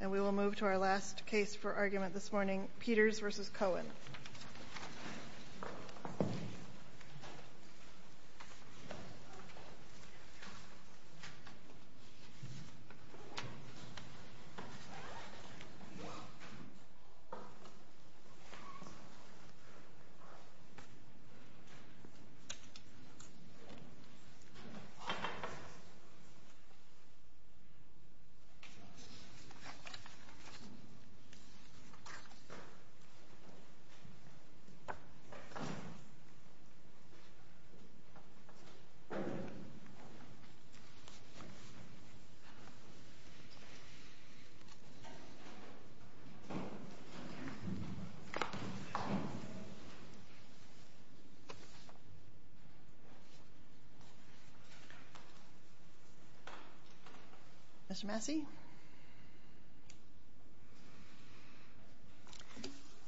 And we will move to our last case for argument this morning, Peters v. Cohen.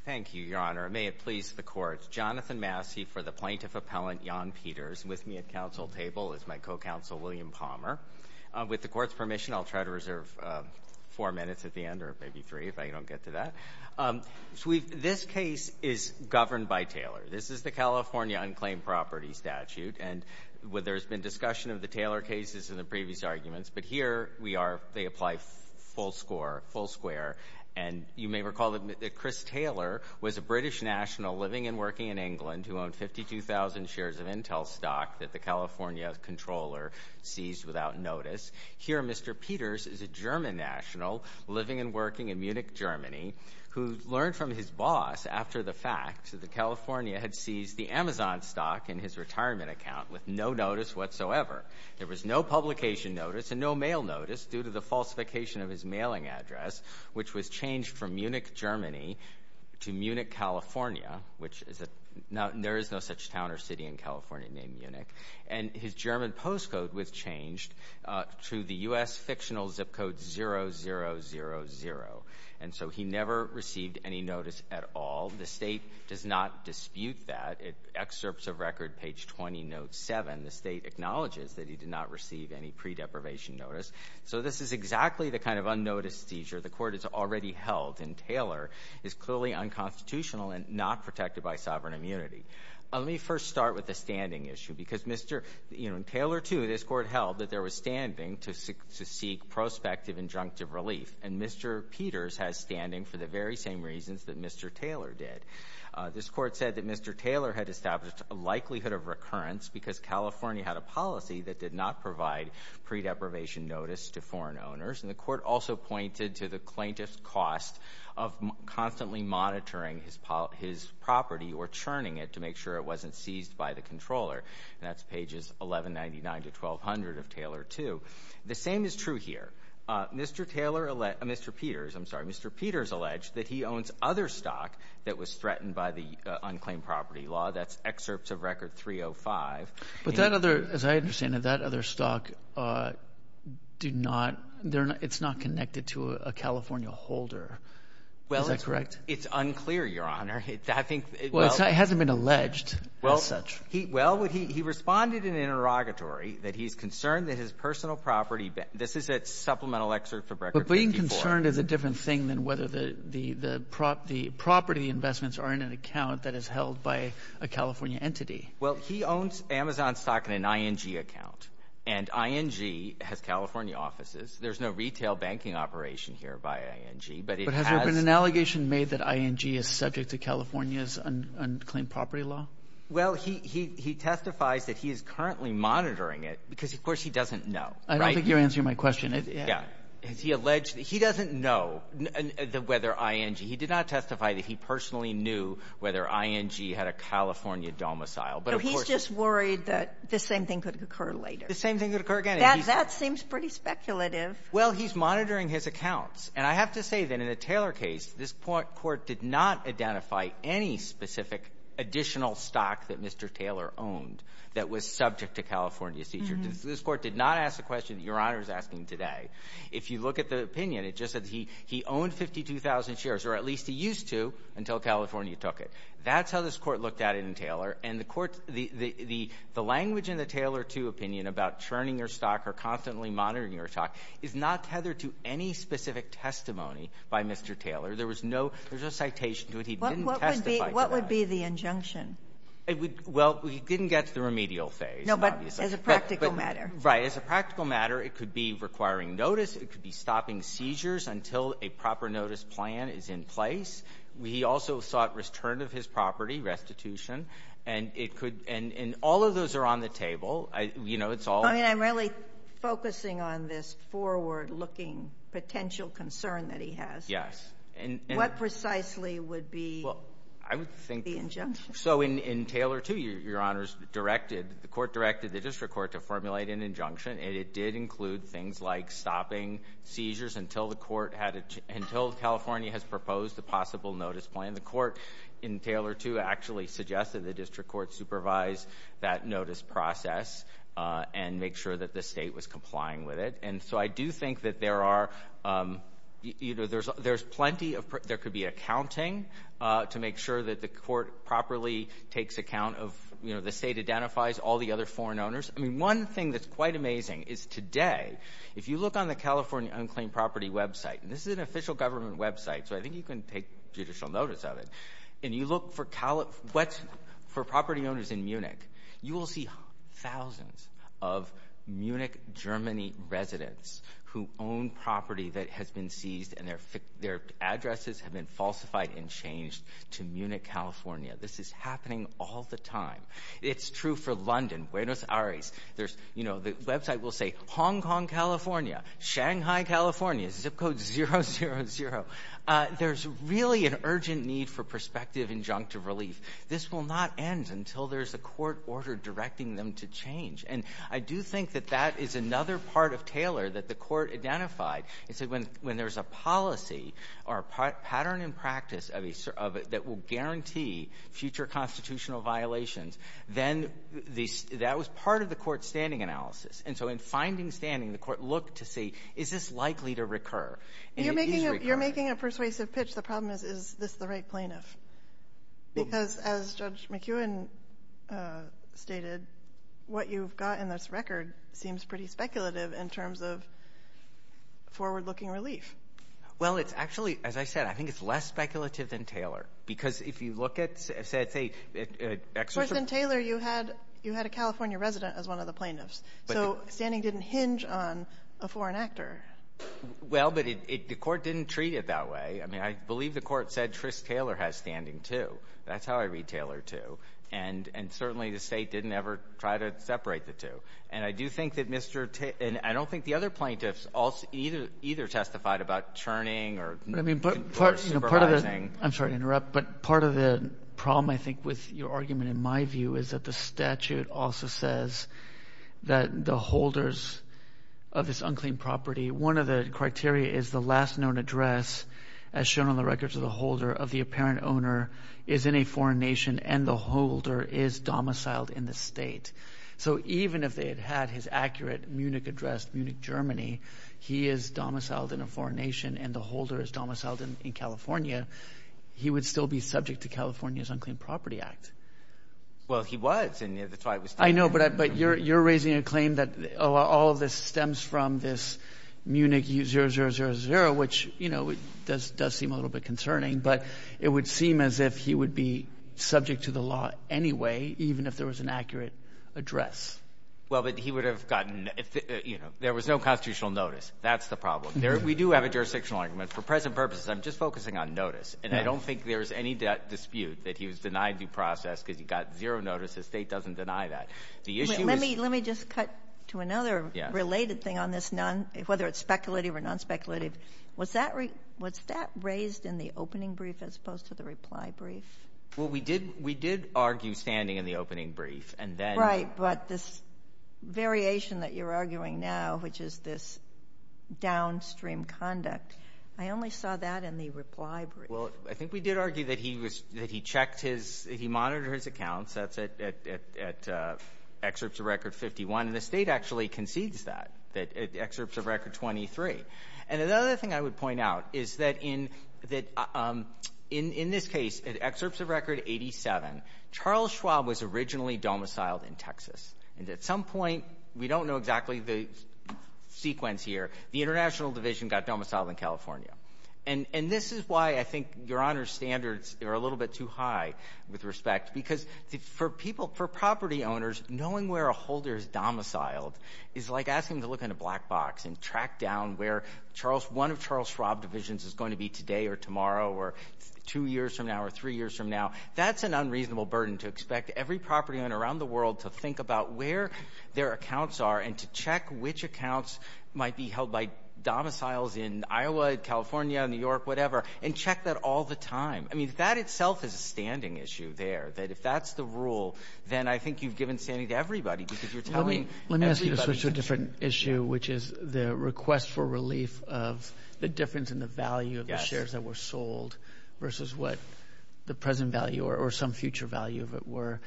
Thank you, Your Honor. May it please the Court. Jonathan Massey for the Plaintiff Appellant, Jan Peters. With me at counsel table is my co-counsel, William Palmer. With the Court's permission, I'll try to reserve four minutes at the end, or maybe three if I don't get to that. This case is governed by Taylor. This is the California unclaimed property statute. And there's been discussion of the Taylor cases in the previous arguments, but here we are. They apply full score, full square. And you may recall that Chris Taylor was a British national living and working in England who owned 52,000 shares of Intel stock that the California controller seized without notice. Here, Mr. Peters is a German national living and working in Munich, Germany, who learned from his boss after the fact that the California had seized the Amazon stock in his retirement account with no notice whatsoever. There was no publication notice and no mail notice due to the falsification of his mailing address, which was changed from Munich, Germany, to Munich, California, which there is no such town or city in California named Munich. And his German postcode was changed to the U.S. fictional zip code 000. And so he never received any notice at all. The State does not dispute that. In excerpts of record, page 20, note 7, the State acknowledges that he did not receive any pre-deprivation notice. So this is exactly the kind of unnoticed seizure the Court has already held, and Taylor is clearly unconstitutional and not protected by sovereign immunity. Let me first start with the standing issue, because Mr. Taylor, too, this Court held that there was standing to seek prospective injunctive relief. And Mr. Peters has standing for the very same reasons that Mr. Taylor did. This Court said that Mr. Taylor had established a likelihood of recurrence because California had a policy that did not provide pre-deprivation notice to foreign owners. And the Court also pointed to the plaintiff's cost of constantly monitoring his property or churning it to make sure it wasn't seized by the controller. And that's pages 1199 to 1200 of Taylor, too. The same is true here. Mr. Peters alleged that he owns other stock that was threatened by the unclaimed property law. That's excerpts of record 305. But that other — as I understand it, that other stock do not — it's not connected to a California holder. Is that correct? Well, it's unclear, Your Honor. I think — Well, it hasn't been alleged as such. Well, he responded in an interrogatory that he's concerned that his personal property — this is a supplemental excerpt from record 304. But being concerned is a different thing than whether the property investments are in an account that is held by a California entity. Well, he owns Amazon stock in an ING account. And ING has California offices. There's no retail banking operation here by ING. But it has — But has there been an allegation made that ING is subject to California's unclaimed property law? Well, he testifies that he is currently monitoring it because, of course, he doesn't know. Right? I don't think you're answering my question. Yeah. He alleged — he doesn't know whether ING — he did not testify that he personally knew whether ING had a California domicile. But he's just worried that the same thing could occur later. The same thing could occur again. That seems pretty speculative. Well, he's monitoring his accounts. And I have to say that in the Taylor case, this Court did not identify any specific additional stock that Mr. Taylor owned that was subject to California's seizure. This Court did not ask the question that Your Honor is asking today. If you look at the opinion, it just said he owned 52,000 shares, or at least he used to until California took it. That's how this Court looked at it in Taylor. And the Court's — the language in the Taylor II opinion about churning your stock or constantly monitoring your stock is not tethered to any specific testimony by Mr. Taylor. There was no — there's no citation to it. He didn't testify to that. What would be the injunction? Well, he didn't get to the remedial phase, obviously. No, but as a practical matter. Right. As a practical matter, it could be requiring notice. It could be stopping seizures until a proper notice plan is in place. He also sought return of his property, restitution. And it could — and all of those are on the table. You know, it's all — I mean, I'm really focusing on this forward-looking potential concern that he has. Yes. What precisely would be the injunction? Well, I would think — so in Taylor II, Your Honors, directed — the Court directed the district court to formulate an injunction, and it did include things like stopping seizures until the court had — until California has proposed a possible notice plan. The court in Taylor II actually suggested the district court supervise that notice process and make sure that the state was complying with it. And so I do think that there are — you know, there's plenty of — there could be accounting to make sure that the court properly takes account of — you know, the state identifies all the other foreign owners. I mean, one thing that's quite amazing is today, if you look on the California Unclaimed Property website — and this is an official government website, so I think you can take judicial notice of it — and you look for property owners in Munich, you will see thousands of Munich, Germany residents who own property that has been seized, and their addresses have been falsified and changed to Munich, California. This is happening all the time. It's true for London, Buenos Aires. There's — you know, the website will say Hong Kong, California, Shanghai, California, zip code 000. There's really an urgent need for prospective injunctive relief. This will not end until there's a court order directing them to change. And I do think that that is another part of Taylor that the court identified. It said when there's a policy or a pattern in practice of a — that will guarantee future constitutional violations, then the — that was part of the court's standing analysis. And so in finding standing, the court looked to see, is this likely to recur? And it is recurrent. You're making a persuasive pitch. The problem is, is this the right plaintiff? Because as Judge McEwen stated, what you've got in this record seems pretty speculative in terms of forward-looking relief. Well, it's actually — as I said, I think it's less speculative than Taylor. Because if you look at, say — Of course, in Taylor, you had a California resident as one of the plaintiffs. So standing didn't hinge on a foreign actor. Well, but it — the court didn't treat it that way. I mean, I believe the court said Trish Taylor has standing, too. That's how I read Taylor, too. And certainly the State didn't ever try to separate the two. And I do think that Mr. — and I don't think the other plaintiffs either testified about churning or — I'm sorry to interrupt, but part of the problem, I think, with your argument in my view is that the statute also says that the holders of this unclean property — one of the criteria is the last known address, as shown on the records of the holder, of the apparent owner is in a foreign nation and the holder is domiciled in the State. So even if they had had his accurate Munich address, Munich, Germany, he is domiciled in a foreign nation and the holder is domiciled in California, he would still be subject to California's Unclean Property Act. Well, he was, and that's why it was — I know, but you're raising a claim that all of this stems from this Munich 000, which, you know, does seem a little bit concerning. But it would seem as if he would be subject to the law anyway, even if there was an accurate address. Well, but he would have gotten — you know, there was no constitutional notice. That's the problem. We do have a jurisdictional argument. For present purposes, I'm just focusing on notice, and I don't think there's any dispute that he was denied due process because he got zero notice. The State doesn't deny that. The issue is — Let me just cut to another related thing on this, whether it's speculative or non-speculative. Was that raised in the opening brief as opposed to the reply brief? Well, we did argue standing in the opening brief, and then — This variation that you're arguing now, which is this downstream conduct, I only saw that in the reply brief. Well, I think we did argue that he was — that he checked his — he monitored his accounts. That's at excerpts of Record 51. And the State actually concedes that, at excerpts of Record 23. And another thing I would point out is that in this case, at excerpts of Record 87, Charles Schwab was originally domiciled in Texas. And at some point — we don't know exactly the sequence here — the International Division got domiciled in California. And this is why I think Your Honor's standards are a little bit too high with respect, because for people — for property owners, knowing where a holder is domiciled is like asking them to look in a black box and track down where Charles — one of Charles Schwab divisions is going to be today or tomorrow or two years from now or three years from now. That's an unreasonable burden to expect every property owner around the world to think about where their accounts are and to check which accounts might be held by domiciles in Iowa, California, New York, whatever, and check that all the time. I mean, that itself is a standing issue there, that if that's the rule, then I think you've given standing to everybody, because you're telling everybody — Let me ask you to switch to a different issue, which is the request for relief of the difference in the value of the shares that were sold versus what the present value or some future value of it were.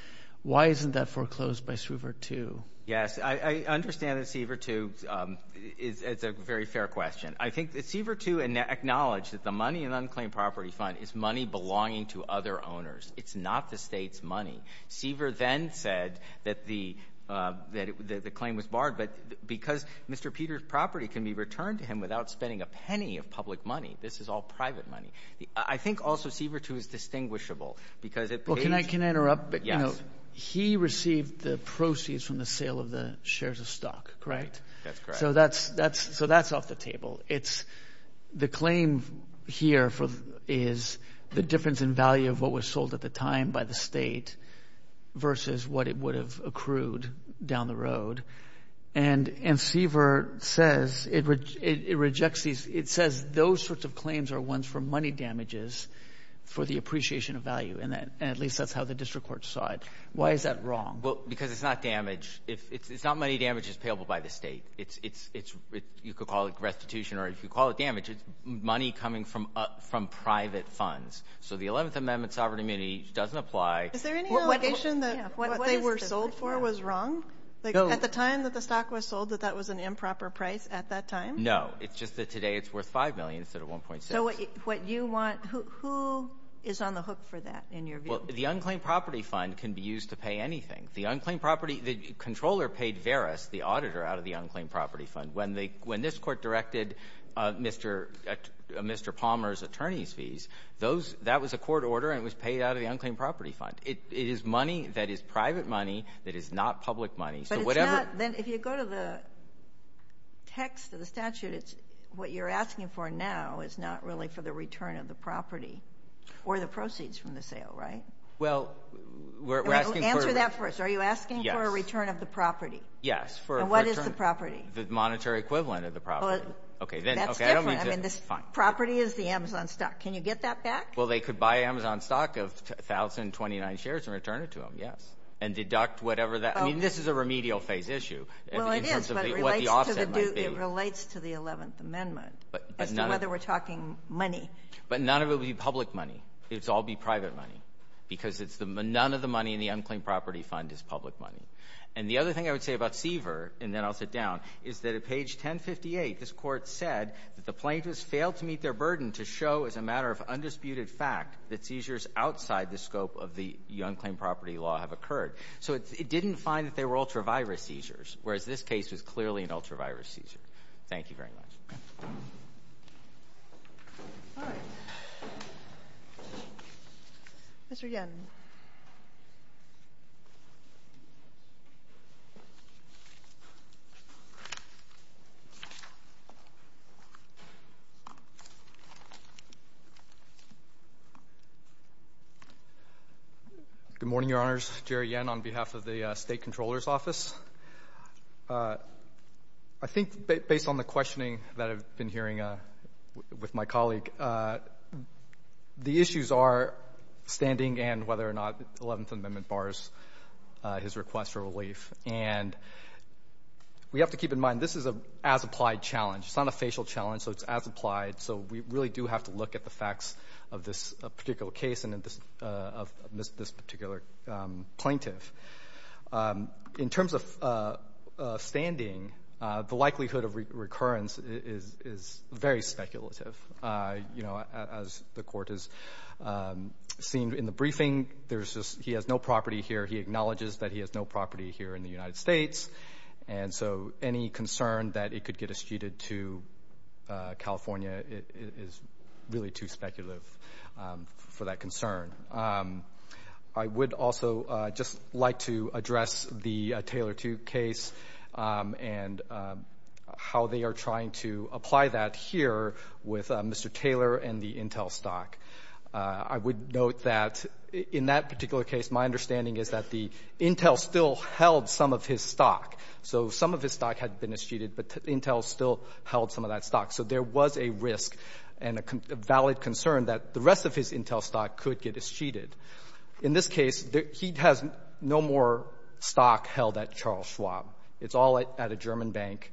Why isn't that foreclosed by CIVR 2? Yes. I understand that CIVR 2 is a very fair question. I think that CIVR 2 acknowledged that the Money in Unclaimed Property Fund is money belonging to other owners. It's not the state's money. CIVR then said that the claim was barred, but because Mr. Peter's property can be returned to him without spending a penny of public money, this is all private money. I think also CIVR 2 is distinguishable, because it pays — Well, can I interrupt? Yes. He received the proceeds from the sale of the shares of stock, correct? That's correct. So that's off the table. The claim here is the difference in value of what was sold at the time by the state versus what it would have accrued down the road. And CIVR says it rejects these — it says those sorts of claims are ones for money damages for the appreciation of value, and at least that's how the district court saw it. Why is that wrong? Well, because it's not damage. It's not money damages payable by the state. It's — you could call it restitution, or if you call it damage, it's money coming from private funds. So the Eleventh Amendment Sovereign Immunity doesn't apply. Is there any allegation that what they were sold for was wrong? No. At the time that the stock was sold, that that was an improper price at that time? No. It's just that today it's worth $5 million instead of $1.6. So what you want — who is on the hook for that, in your view? Well, the unclaimed property fund can be used to pay anything. The unclaimed property — the Comptroller paid Veris, the auditor, out of the unclaimed property fund. When they — when this Court directed Mr. Palmer's attorney's fees, those — that was a court order, and it was paid out of the unclaimed property fund. It is money that is private money that is not public money. So whatever — But it's not — then if you go to the text of the statute, it's — what you're asking for now is not really for the return of the property or the proceeds from the sale, right? Well, we're asking for — Answer that first. Are you asking for a return of the property? And what is the property? The monetary equivalent of the property. Well, that's different. I mean, this property is the Amazon stock. Can you get that back? Well, they could buy Amazon stock of 1,029 shares and return it to them, yes, and deduct whatever that — I mean, this is a remedial phase issue in terms of what the offset might be. Well, it is, but it relates to the 11th Amendment as to whether we're talking money. But none of it would be public money. It would all be private money because it's the — none of the money in the unclaimed property fund is public money. And the other thing I would say about Seaver, and then I'll sit down, is that at page 1058, this Court said that the plaintiffs failed to meet their burden to show as a matter of undisputed fact that seizures outside the scope of the unclaimed property law have occurred. So it didn't find that they were ultravirus seizures, whereas this case was clearly an ultravirus seizure. Thank you very much. All right. Mr. Yen. Good morning, Your Honors. Jerry Yen on behalf of the State Comptroller's I think based on the questioning that I've been hearing with my colleague, the issues are standing and whether or not the 11th Amendment bars his request for relief. And we have to keep in mind this is an as-applied challenge. It's not a facial challenge, so it's as-applied. So we really do have to look at the facts of this particular case and of this particular plaintiff. In terms of standing, the likelihood of recurrence is very speculative. You know, as the Court has seen in the briefing, he has no property here. He acknowledges that he has no property here in the United States, and so any concern that it could get eschewed to California is really too speculative for that concern. I would also just like to address the Taylor 2 case and how they are trying to apply that here with Mr. Taylor and the Intel stock. I would note that in that particular case, my understanding is that the Intel still held some of his stock. So some of his stock had been eschewed, but Intel still held some of that stock. So there was a risk and a valid concern that the rest of his Intel stock could get eschewed. In this case, he has no more stock held at Charles Schwab. It's all at a German bank.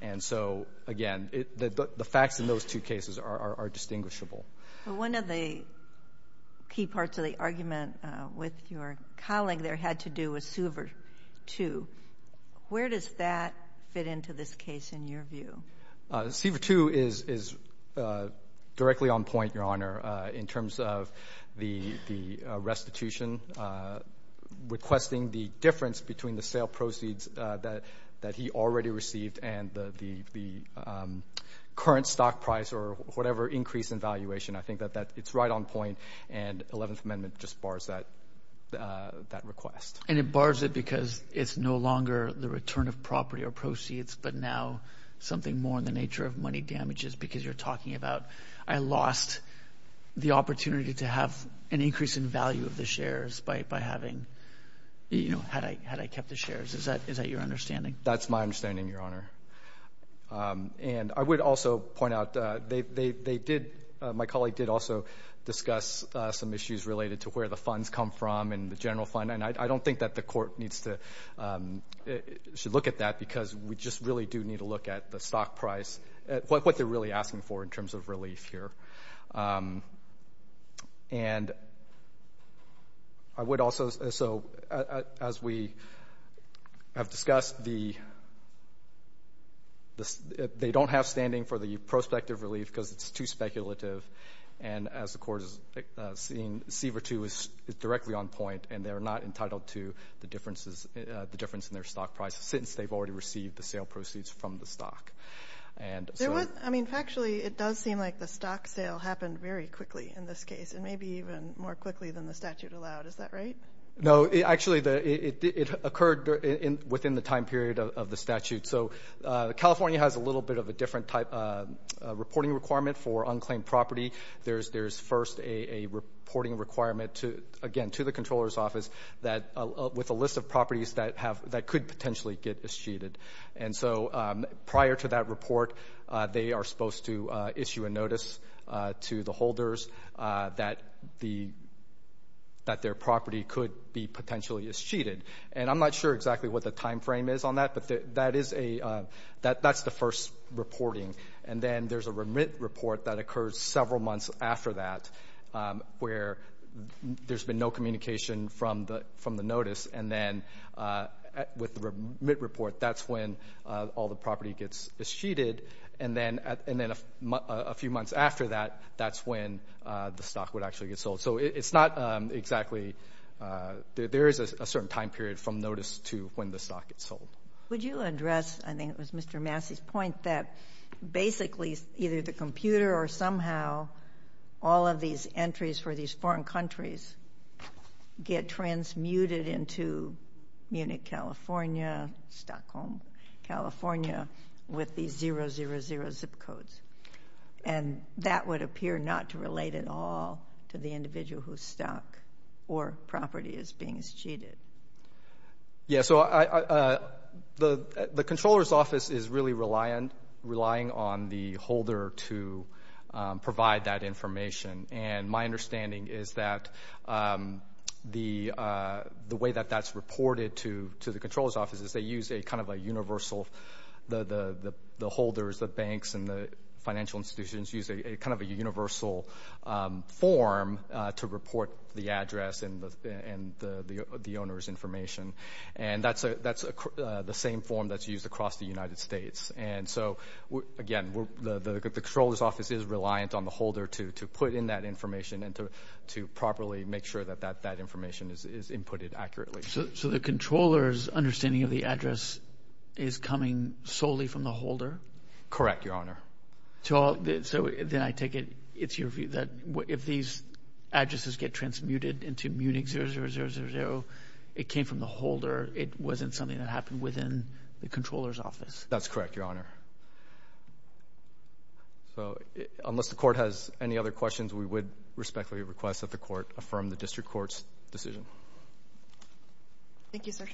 And so, again, the facts in those two cases are distinguishable. One of the key parts of the argument with your colleague there had to do with Siever 2. Where does that fit into this case in your view? Siever 2 is directly on point, Your Honor, in terms of the restitution requesting the difference between the sale proceeds that he already received and the current stock price or whatever increase in valuation. I think that it's right on point, and Eleventh Amendment just bars that request. And it bars it because it's no longer the return of property or proceeds, but now something more in the nature of money damages because you're talking about I lost the opportunity to have an increase in value of the shares by having, you know, had I kept the shares. Is that your understanding? That's my understanding, Your Honor. And I would also point out they did, my colleague did also discuss some issues related to where the funds come from and the general fund, and I don't think that the court needs to look at that because we just really do need to look at the stock price, what they're really asking for in terms of relief here. And I would also, so as we have discussed, they don't have standing for the prospective relief because it's too speculative, and as the court has seen, Siever 2 is directly on point and they're not entitled to the difference in their stock price since they've already received the sale proceeds from the stock. I mean, factually, it does seem like the stock sale happened very quickly in this case and maybe even more quickly than the statute allowed. Is that right? No. Actually, it occurred within the time period of the statute. So California has a little bit of a different type of reporting requirement for unclaimed property. There's first a reporting requirement, again, to the Comptroller's Office with a list of properties that could potentially get escheated. And so prior to that report, they are supposed to issue a notice to the holders that their property could be potentially escheated. And I'm not sure exactly what the time frame is on that, but that's the first reporting. And then there's a remit report that occurs several months after that where there's been no communication from the notice. And then with the remit report, that's when all the property gets escheated. And then a few months after that, that's when the stock would actually get sold. So it's not exactly there is a certain time period from notice to when the stock gets sold. Would you address, I think it was Mr. Massey's point, that basically either the computer or somehow all of these entries for these foreign countries get transmuted into Munich, California, Stockholm, California, with these 000 zip codes, and that would appear not to relate at all to the individual whose stock or property is being escheated? Yeah, so the controller's office is really relying on the holder to provide that information. And my understanding is that the way that that's reported to the controller's office is they use a kind of a universal, the holders, the banks, and the financial institutions use a kind of a universal form to report the address and the owner's information. And that's the same form that's used across the United States. And so, again, the controller's office is reliant on the holder to put in that information and to properly make sure that that information is inputted accurately. So the controller's understanding of the address is coming solely from the holder? Correct, Your Honor. So then I take it it's your view that if these addresses get transmuted into Munich 000, it came from the holder, it wasn't something that happened within the controller's office? That's correct, Your Honor. So unless the court has any other questions, we would respectfully request that the court affirm the district court's decision. Thank you, sir.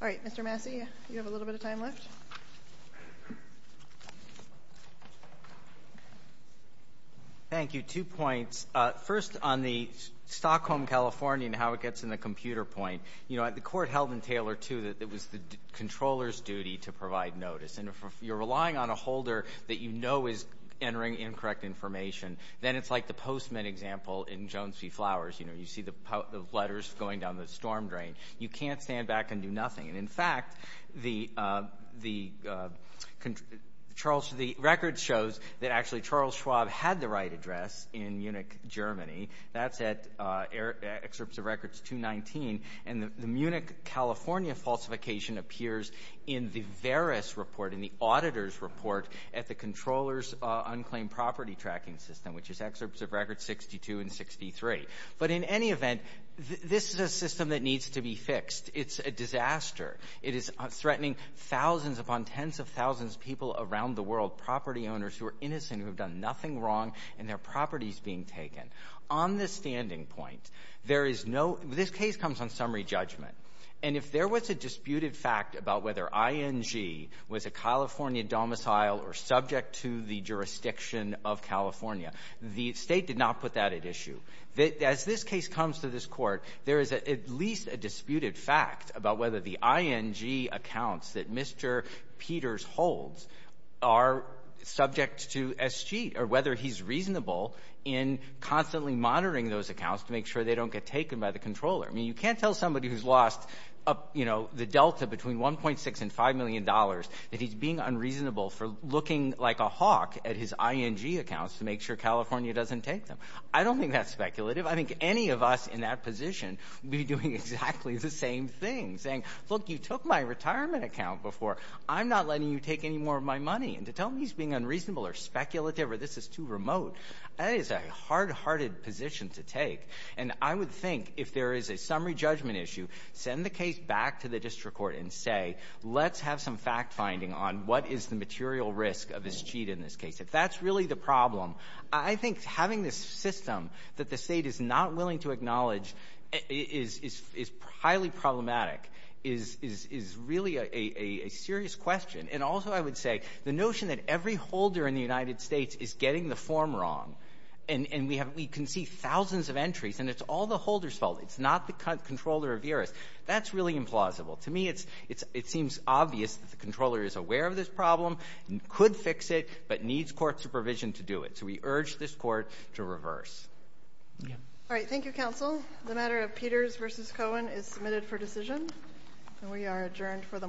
All right. Mr. Massey, you have a little bit of time left. Thank you. Two points. First, on the Stockholm, California, and how it gets in the computer point, you know, the court held in Taylor, too, that it was the controller's duty to provide notice. And if you're relying on a holder that you know is entering incorrect information, then it's like the postman example in Jones v. Flowers. You know, you see the letters going down the storm drain. You can't stand back and do nothing. And, in fact, the record shows that actually Charles Schwab had the right address in Munich, Germany. That's at Excerpts of Records 219. And the Munich, California falsification appears in the Veris report, in the auditor's report at the controller's unclaimed property tracking system, which is Excerpts of Records 62 and 63. But, in any event, this is a system that needs to be fixed. It's a disaster. It is threatening thousands upon tens of thousands of people around the world, property owners who are innocent, who have done nothing wrong, and their property is being taken. On the standing point, there is no – this case comes on summary judgment. And if there was a disputed fact about whether ING was a California domicile or subject to the jurisdiction of California, the State did not put that at issue. As this case comes to this Court, there is at least a disputed fact about whether the ING accounts that Mr. Peters holds are subject to SG or whether he's reasonable in constantly monitoring those accounts to make sure they don't get taken by the controller. I mean, you can't tell somebody who's lost, you know, the delta between $1.6 and $5 million that he's being unreasonable for looking like a hawk at his ING accounts to make sure California doesn't take them. I don't think that's speculative. I think any of us in that position would be doing exactly the same thing, saying, look, you took my retirement account before. I'm not letting you take any more of my money. And to tell me he's being unreasonable or speculative or this is too remote, that is a hard-hearted position to take. And I would think if there is a summary judgment issue, send the case back to the district court and say, let's have some fact-finding on what is the material risk of this cheat in this case. If that's really the problem, I think having this system that the State is not willing to acknowledge is highly problematic, is really a serious question. And also I would say the notion that every holder in the United States is getting the form wrong, and we can see thousands of entries, and it's all the holder's It's not the controller Averis. That's really implausible. To me, it seems obvious that the controller is aware of this problem and could fix it, but needs court supervision to do it. So we urge this court to reverse. All right. Thank you, counsel. The matter of Peters versus Cohen is submitted for decision. And we are adjourned for the morning.